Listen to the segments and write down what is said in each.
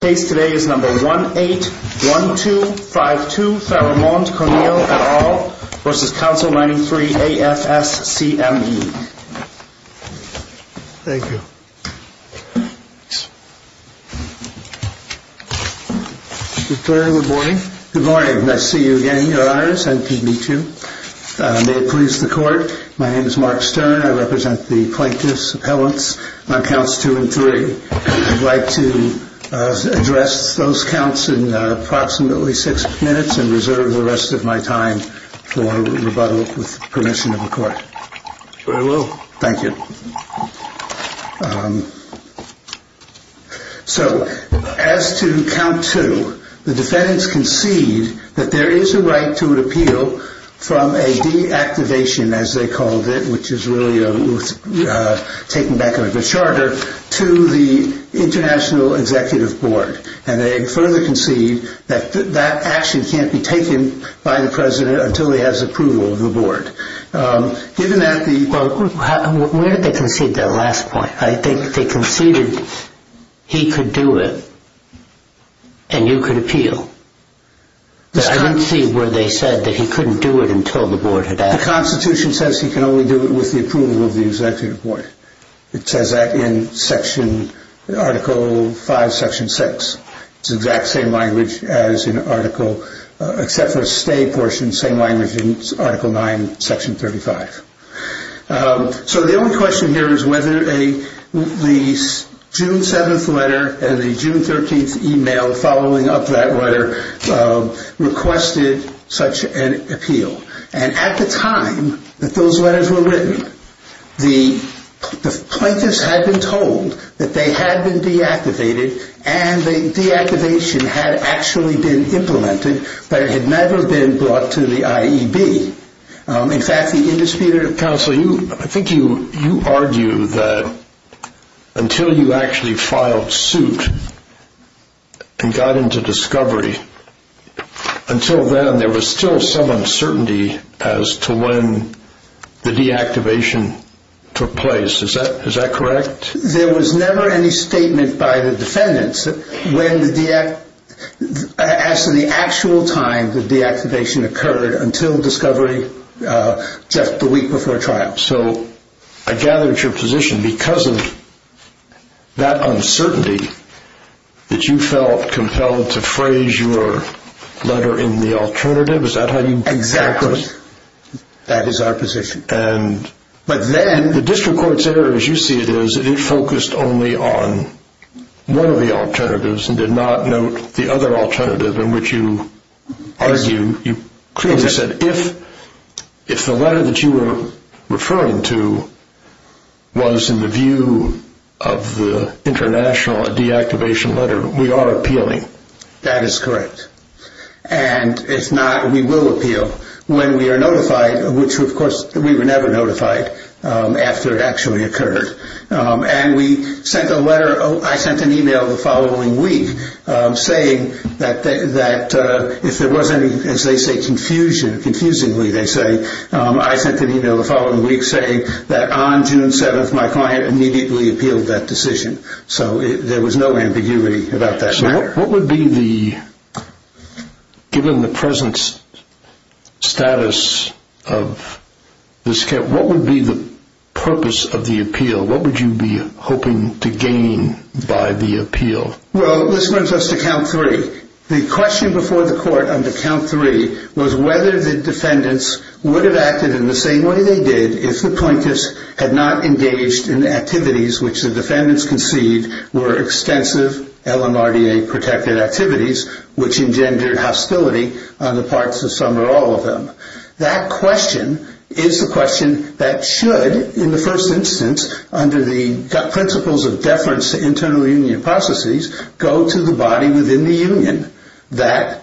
The case today is number 181252, Theramont Cornille et al. v. Council 93, AFSCME. Thank you. Mr. Stern, good morning. Good morning. Nice to see you again, Your Honors. Nice to meet you. May it please the Court, my name is Mark Stern. I represent the plaintiffs' appellants on counts 2 and 3. I'd like to address those counts in approximately six minutes and reserve the rest of my time for rebuttal with permission of the Court. Very well. Thank you. So, as to count 2, the defendants concede that there is a right to repeal from a deactivation, as they called it, which is really taken back a bit shorter, to the International Executive Board. And they further concede that that action can't be taken by the President until he has approval of the Board. Where did they concede that last point? They conceded he could do it and you could appeal. I didn't see where they said that he couldn't do it until the Board had asked him. The Constitution says he can only do it with the approval of the Executive Board. It says that in Article 5, Section 6. It's the exact same language as in Article 9, Section 35. So the only question here is whether the June 7th letter and the June 13th email following up that letter requested such an appeal. And at the time that those letters were written, the plaintiffs had been told that they had been deactivated and the deactivation had actually been implemented, but it had never been brought to the IEB. In fact, the indisputed counsel, I think you argue that until you actually filed suit and got into discovery, until then there was still some uncertainty as to when the deactivation took place. Is that correct? There was never any statement by the defendants as to the actual time the deactivation occurred until discovery just the week before trial. So I gather it's your position because of that uncertainty that you felt compelled to phrase your letter in the alternative. Is that how you felt? Exactly. That is our position. The district court's error, as you see it, is that it focused only on one of the alternatives and did not note the other alternative in which you argue. You clearly said if the letter that you were referring to was in the view of the international deactivation letter, we are appealing. That is correct. And if not, we will appeal when we are notified, which of course we were never notified after it actually occurred. I sent an email the following week saying that on June 7th my client immediately appealed that decision. So there was no ambiguity about that matter. Given the present status of this case, what would be the purpose of the appeal? What would you be hoping to gain by the appeal? Well, this brings us to count three. The question before the court under count three was whether the defendants would have acted in the same way they did if the plaintiffs had not engaged in activities which the defendants conceived were extensive LMRDA-protected activities, which engendered hostility on the parts of some or all of them. That question is the question that should, in the first instance, under the principles of deference to internal union processes, go to the body within the union that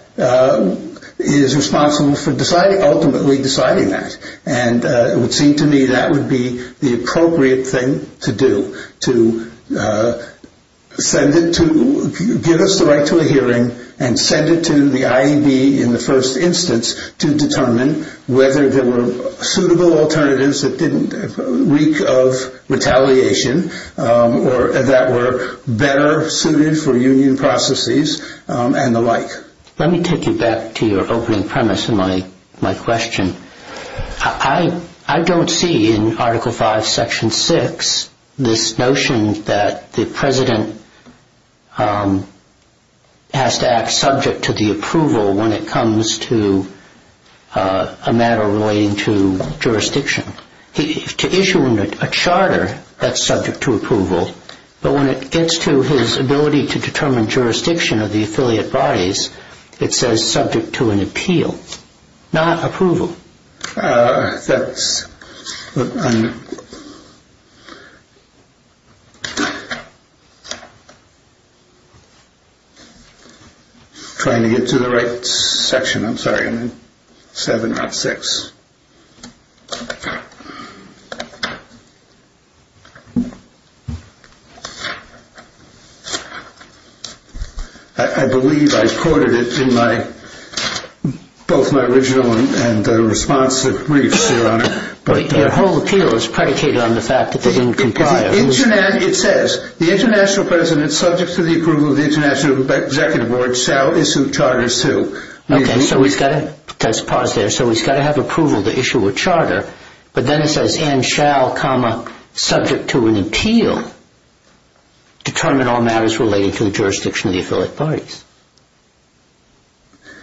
is responsible for ultimately deciding that. And it would seem to me that would be the appropriate thing to do, to give us the right to a hearing and send it to the IAB in the first instance to determine whether there were suitable alternatives that didn't reek of retaliation or that were better suited for union processes and the like. Let me take you back to your opening premise in my question. I don't see in Article V, Section 6 this notion that the President has to act subject to the approval when it comes to a matter relating to jurisdiction. To issue a charter that's subject to approval, but when it gets to his ability to determine jurisdiction of the affiliate bodies, it says subject to an appeal, not approval. I'm trying to get to the right section. I'm sorry. I believe I quoted it in both my original and responsive briefs, Your Honor. Your whole appeal is predicated on the fact that they didn't comply. It says, the International President, subject to the approval of the International Executive Board, shall issue charters to... Let's pause there. So he's got to have approval to issue a charter, but then it says, and shall, subject to an appeal, determine all matters relating to the jurisdiction of the affiliate bodies.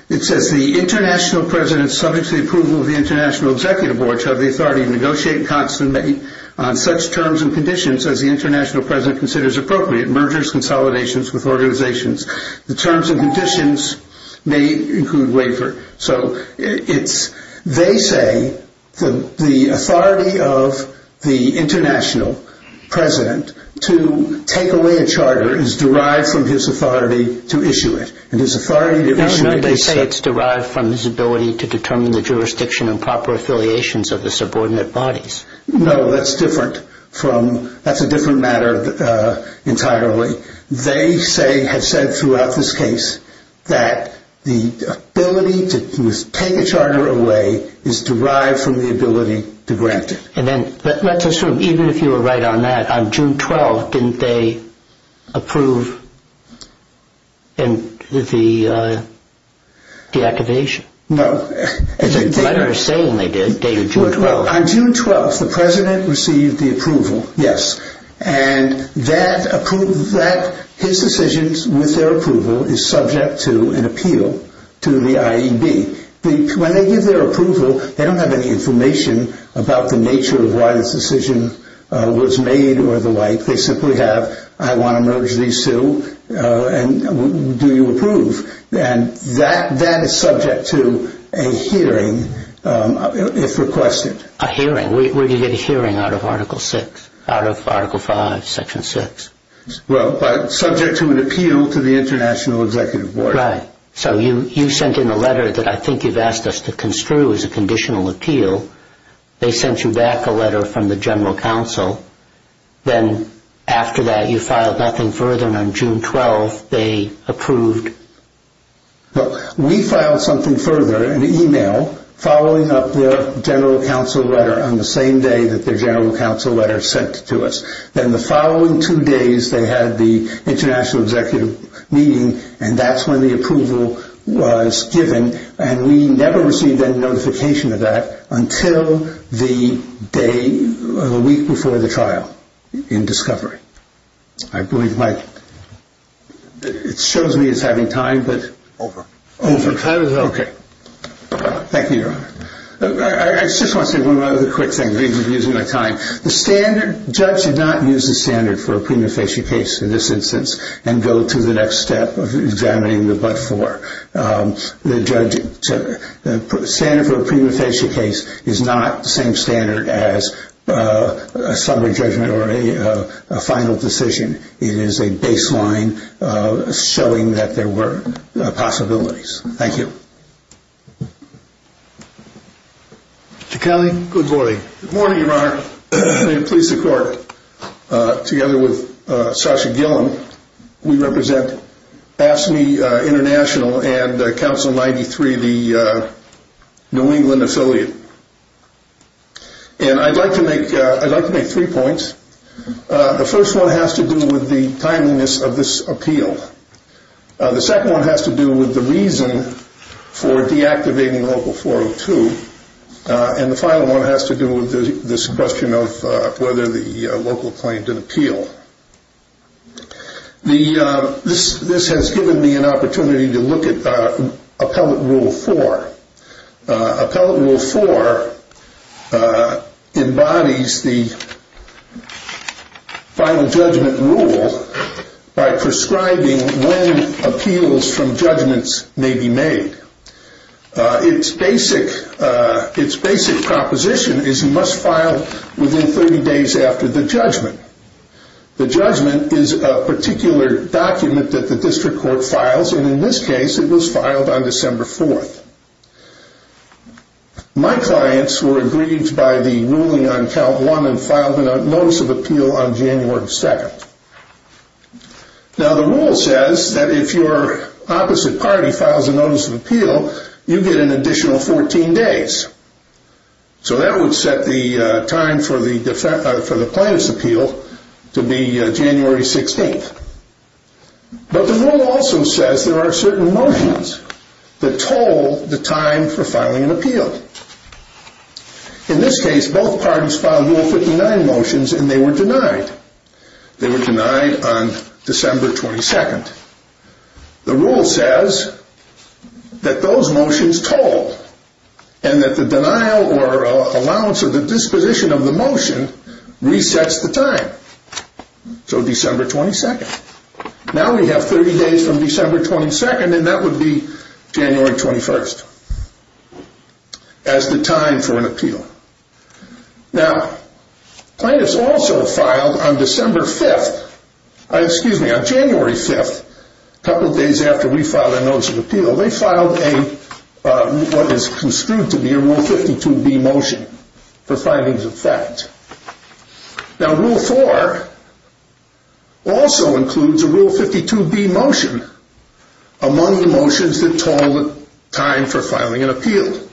It says, the International President, subject to the approval of the International Executive Board, shall have the authority to negotiate and consummate on such terms and conditions as the International President considers appropriate, mergers, consolidations with organizations. The terms and conditions may include waiver. They say the authority of the International President to take away a charter is derived from his authority to issue it. No, they say it's derived from his ability to determine the jurisdiction and proper affiliations of the subordinate bodies. No, that's different. That's a different matter entirely. They say, have said throughout this case, that the ability to take a charter away is derived from the ability to grant it. And then, let's assume, even if you were right on that, on June 12th, didn't they approve the deactivation? No. The letter is saying they did, dated June 12th. On June 12th, the President received the approval, yes, and his decisions with their approval is subject to an appeal to the IAEB. When they give their approval, they don't have any information about the nature of why this decision was made or the like. They simply have, I want to merge these two, and do you approve? And that is subject to a hearing if requested. A hearing? Where do you get a hearing out of Article 6, out of Article 5, Section 6? Well, subject to an appeal to the International Executive Board. Right. So you sent in a letter that I think you've asked us to construe as a conditional appeal. They sent you back a letter from the General Counsel. Then, after that, you filed nothing further, and on June 12th, they approved. Well, we filed something further, an email, following up the General Counsel letter on the same day that the General Counsel letter was sent to us. Then, the following two days, they had the International Executive meeting, and that's when the approval was given. And we never received any notification of that until the day, the week before the trial, in discovery. I believe, Mike, it shows me it's having time, but. Over. Over. Okay. Thank you, Your Honor. I just want to say one other quick thing, because you're using my time. The standard, judge did not use the standard for a premonitory case in this instance and go to the next step of examining the but-for. The standard for a premonitory case is not the same standard as a summary judgment or a final decision. It is a baseline showing that there were possibilities. Thank you. Mr. Kelly, good morning. Good morning, Your Honor. May it please the Court, together with Sasha Gilliam, we represent AFSCME International and Council 93, the New England affiliate. And I'd like to make three points. The first one has to do with the timeliness of this appeal. The second one has to do with the reason for deactivating Local 402. And the final one has to do with this question of whether the local claimed an appeal. This has given me an opportunity to look at Appellate Rule 4. Appellate Rule 4 embodies the Final Judgment Rule by prescribing when appeals from judgments may be made. Its basic proposition is you must file within 30 days after the judgment. The judgment is a particular document that the district court files, and in this case it was filed on December 4th. My clients were agreed by the ruling on Count 1 and filed a Notice of Appeal on January 2nd. Now the rule says that if your opposite party files a Notice of Appeal, you get an additional 14 days. So that would set the time for the plaintiff's appeal to be January 16th. But the rule also says there are certain motions that toll the time for filing an appeal. In this case, both parties filed Rule 59 motions and they were denied. They were denied on December 22nd. The rule says that those motions toll and that the denial or allowance of the disposition of the motion resets the time. So December 22nd. Now we have 30 days from December 22nd and that would be January 21st as the time for an appeal. Now, plaintiffs also filed on January 5th, a couple of days after we filed a Notice of Appeal, they filed what is construed to be a Rule 52B motion for findings of fact. Now Rule 4 also includes a Rule 52B motion among the motions that toll the time for filing an appeal.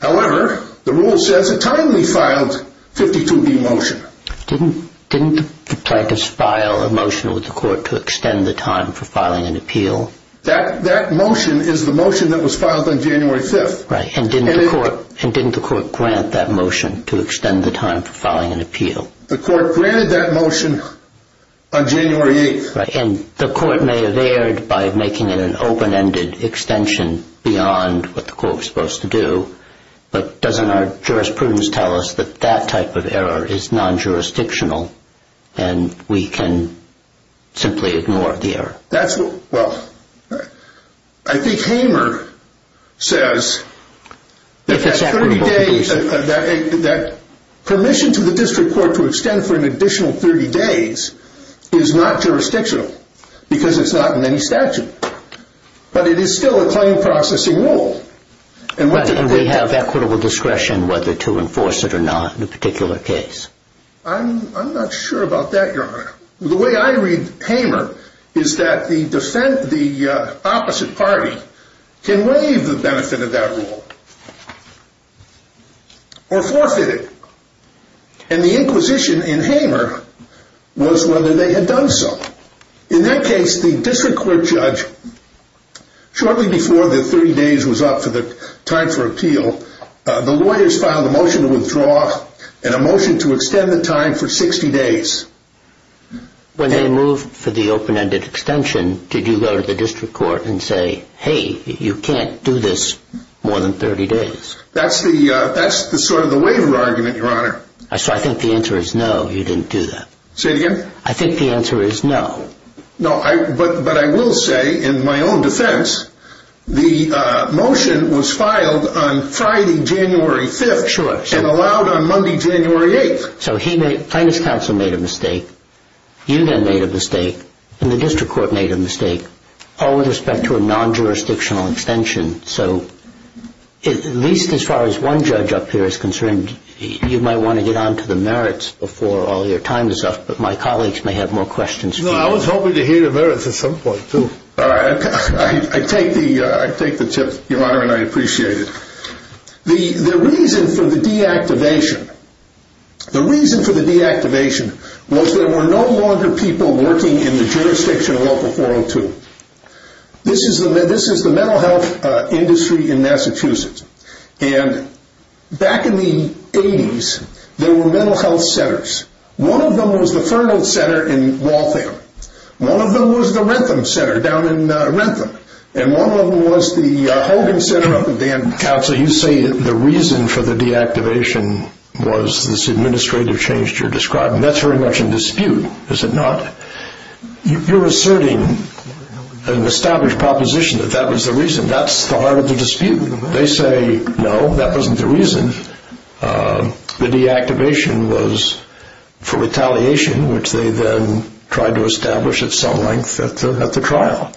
However, the rule says a timely filed 52B motion. Didn't the plaintiffs file a motion with the court to extend the time for filing an appeal? That motion is the motion that was filed on January 5th. Right, and didn't the court grant that motion to extend the time for filing an appeal? The court granted that motion on January 8th. And the court may have erred by making it an open-ended extension beyond what the court was supposed to do, but doesn't our jurisprudence tell us that that type of error is non-jurisdictional and we can simply ignore the error? Well, I think Hamer says that permission to the district court to extend for an additional 30 days is not jurisdictional, because it's not in any statute. But it is still a claim processing rule. And we have equitable discretion whether to enforce it or not in a particular case? I'm not sure about that, Your Honor. The way I read Hamer is that the opposite party can waive the benefit of that rule or forfeit it. And the inquisition in Hamer was whether they had done so. In that case, the district court judge, shortly before the 30 days was up for the time for appeal, the lawyers filed a motion to withdraw and a motion to extend the time for 60 days. When they moved for the open-ended extension, did you go to the district court and say, hey, you can't do this more than 30 days? That's sort of the waiver argument, Your Honor. So I think the answer is no, you didn't do that. Say it again? I think the answer is no. But I will say, in my own defense, the motion was filed on Friday, January 5th and allowed on Monday, January 8th. So plaintiff's counsel made a mistake, you then made a mistake, and the district court made a mistake all with respect to a non-jurisdictional extension. So at least as far as one judge up here is concerned, you might want to get on to the merits before all your time is up, but my colleagues may have more questions for you. No, I was hoping to hear the merits at some point, too. All right. I take the tip, Your Honor, and I appreciate it. The reason for the deactivation was there were no longer people working in the jurisdiction of Local 402. This is the mental health industry in Massachusetts. And back in the 80s, there were mental health centers. One of them was the Fernald Center in Waltham. One of them was the Rentham Center down in Rentham. And one of them was the Hogan Center up in Danville. Counsel, you say the reason for the deactivation was this administrative change you're describing. That's very much in dispute, is it not? You're asserting an established proposition that that was the reason. That's the heart of the dispute. They say, no, that wasn't the reason. The deactivation was for retaliation, which they then tried to establish at some length at the trial.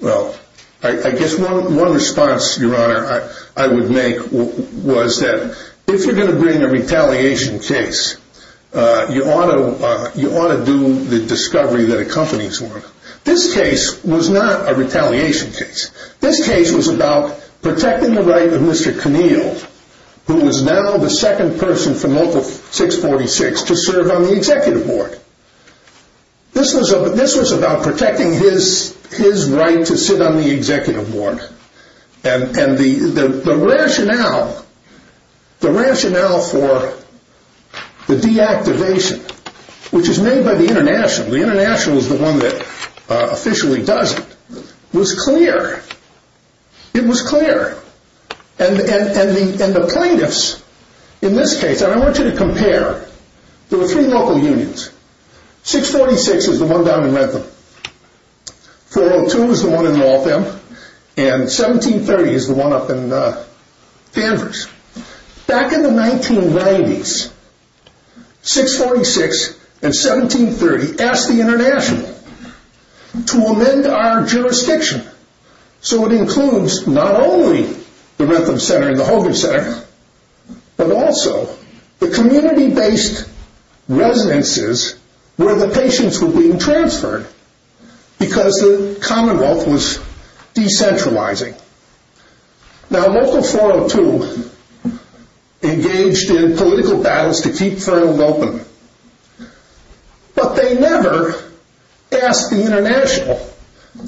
Well, I guess one response, Your Honor, I would make was that if you're going to bring a retaliation case, you ought to do the discovery that accompanies one. This case was not a retaliation case. This case was about protecting the right of Mr. Conneal, who is now the second person from Local 646, to serve on the executive board. This was about protecting his right to sit on the executive board. And the rationale for the deactivation, which is made by the International, the International is the one that officially does it, was clear. It was clear. And the plaintiffs in this case, and I want you to compare. There were three local unions. 646 is the one down in Redtham. 402 is the one in Lawtham. And 1730 is the one up in Danvers. Back in the 1990s, 646 and 1730 asked the International to amend our jurisdiction so it includes not only the Redtham Center and the Hogan Center, but also the community-based residences where the patients were being transferred because the Commonwealth was decentralizing. Now Local 402 engaged in political battles to keep Fernwood open, but they never asked the International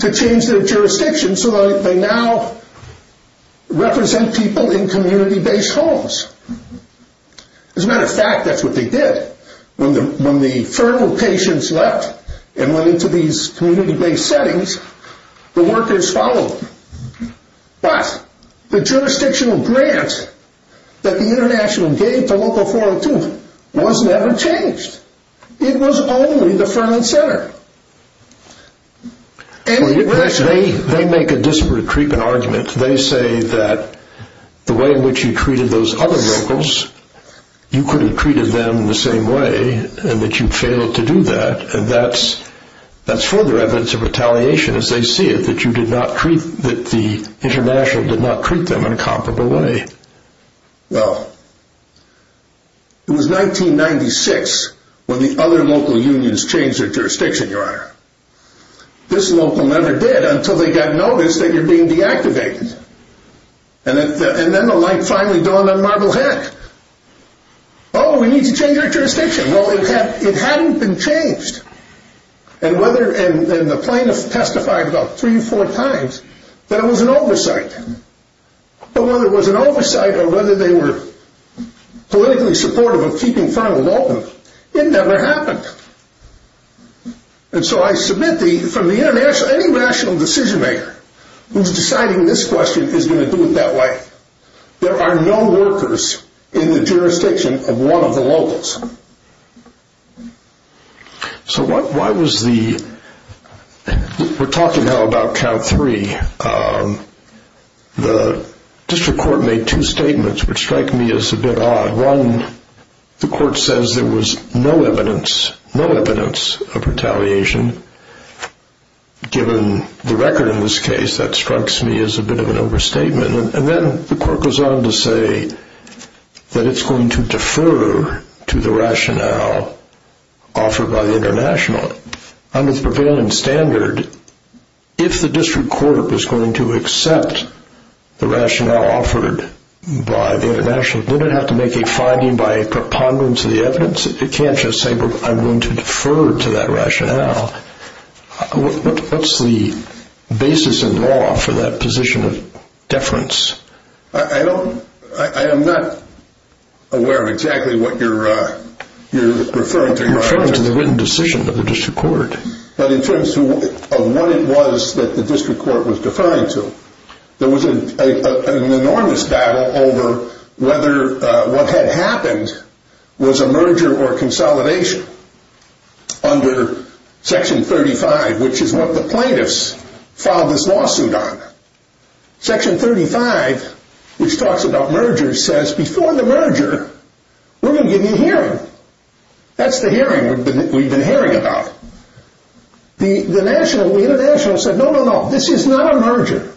to change their jurisdiction so that they now represent people in community-based homes. As a matter of fact, that's what they did. When the Fernwood patients left and went into these community-based settings, the workers followed them. But the jurisdictional grant that the International gave to Local 402 was never changed. It was only the Fernwood Center. They make a disparate treatment argument. They say that the way in which you treated those other locals, you could have treated them the same way and that you failed to do that, and that's further evidence of retaliation as they see it, that the International did not treat them in a comparable way. Well, it was 1996 when the other local unions changed their jurisdiction, Your Honor. This local never did until they got notice that you're being deactivated. And then the light finally dawned on Marble Head. Oh, we need to change our jurisdiction. Well, it hadn't been changed. And the plaintiff testified about three or four times that it was an oversight. But whether it was an oversight or whether they were politically supportive of keeping Fernwood open, it never happened. And so I submit to you from any rational decision-maker who's deciding this question is going to do it that way, there are no workers in the jurisdiction of one of the locals. So why was the – we're talking now about count three. The district court made two statements which strike me as a bit odd. One, the court says there was no evidence, no evidence of retaliation. Given the record in this case, that strikes me as a bit of an overstatement. And then the court goes on to say that it's going to defer to the rationale offered by the international. Under the prevailing standard, if the district court was going to accept the rationale offered by the international, did it have to make a finding by a preponderance of the evidence? It can't just say, well, I'm going to defer to that rationale. What's the basis in law for that position of deference? I don't – I am not aware of exactly what you're referring to. I'm referring to the written decision of the district court. But in terms of what it was that the district court was deferring to, there was an enormous battle over whether what had happened was a merger or consolidation under Section 35, which is what the plaintiffs filed this lawsuit on. Section 35, which talks about mergers, says before the merger, we're going to give you a hearing. That's the hearing we've been hearing about. The international said, no, no, no, this is not a merger.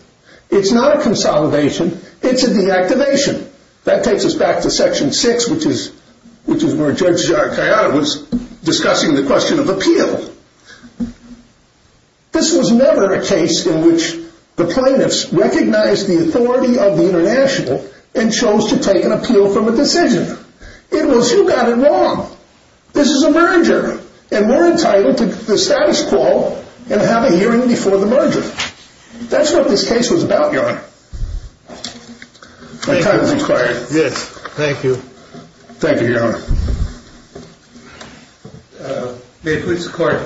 It's not a consolidation. It's a deactivation. That takes us back to Section 6, which is where Judge Zarkaian was discussing the question of appeal. This was never a case in which the plaintiffs recognized the authority of the international and chose to take an appeal from a decision. It was, you got it wrong. This is a merger, and we're entitled to the status quo and have a hearing before the merger. That's what this case was about, Your Honor. My time has expired. Yes, thank you. Thank you, Your Honor. May it please the Court.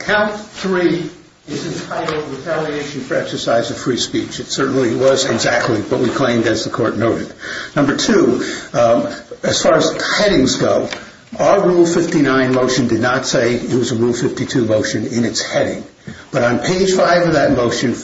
Count three is entitled retaliation for exercise of free speech. It certainly was exactly what we claimed, as the Court noted. Number two, as far as headings go, our Rule 59 motion did not say it was a Rule 52 motion in its heading. But on page five of that motion,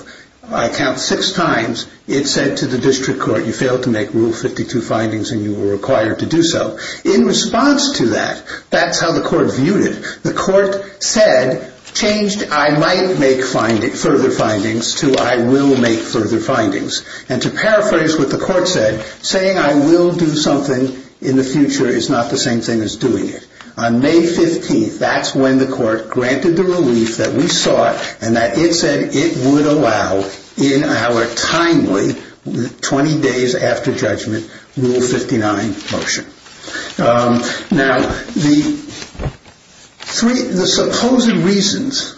I count six times, it said to the District Court, you failed to make Rule 52 findings and you were required to do so. In response to that, that's how the Court viewed it. The Court said, changed I might make further findings to I will make further findings. And to paraphrase what the Court said, saying I will do something in the future is not the same thing as doing it. On May 15th, that's when the Court granted the relief that we sought and that it said it would allow in our timely 20 days after judgment Rule 59 motion. Now, the three, the supposed reasons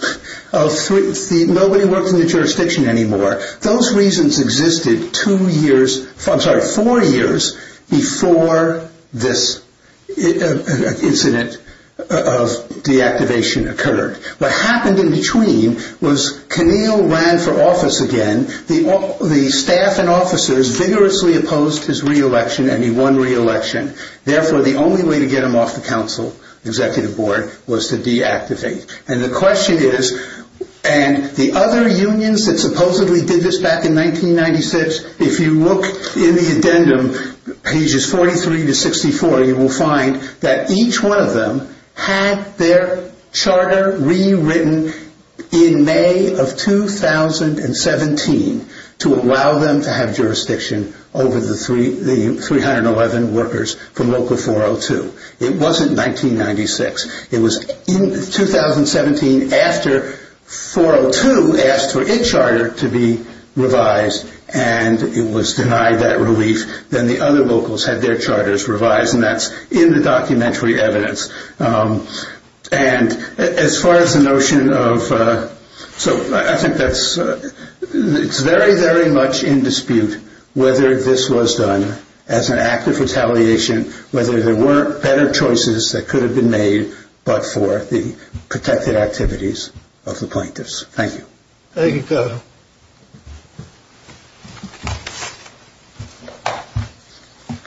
of three, nobody worked in the jurisdiction anymore. Those reasons existed two years, I'm sorry, four years before this incident of deactivation occurred. What happened in between was Conneal ran for office again. The staff and officers vigorously opposed his reelection and he won reelection. Therefore, the only way to get him off the Council Executive Board was to deactivate. And the question is, and the other unions that supposedly did this back in 1996, if you look in the addendum, pages 43 to 64, you will find that each one of them had their charter rewritten in May of 2017 to allow them to have jurisdiction over the 311 workers from Local 402. It wasn't 1996. It was in 2017 after 402 asked for its charter to be revised and it was denied that relief. Then the other locals had their charters revised and that's in the documentary evidence. And as far as the notion of, so I think that's, it's very, very much in dispute whether this was done as an act of retaliation, whether there were better choices that could have been made, but for the protected activities of the plaintiffs. Thank you. Thank you.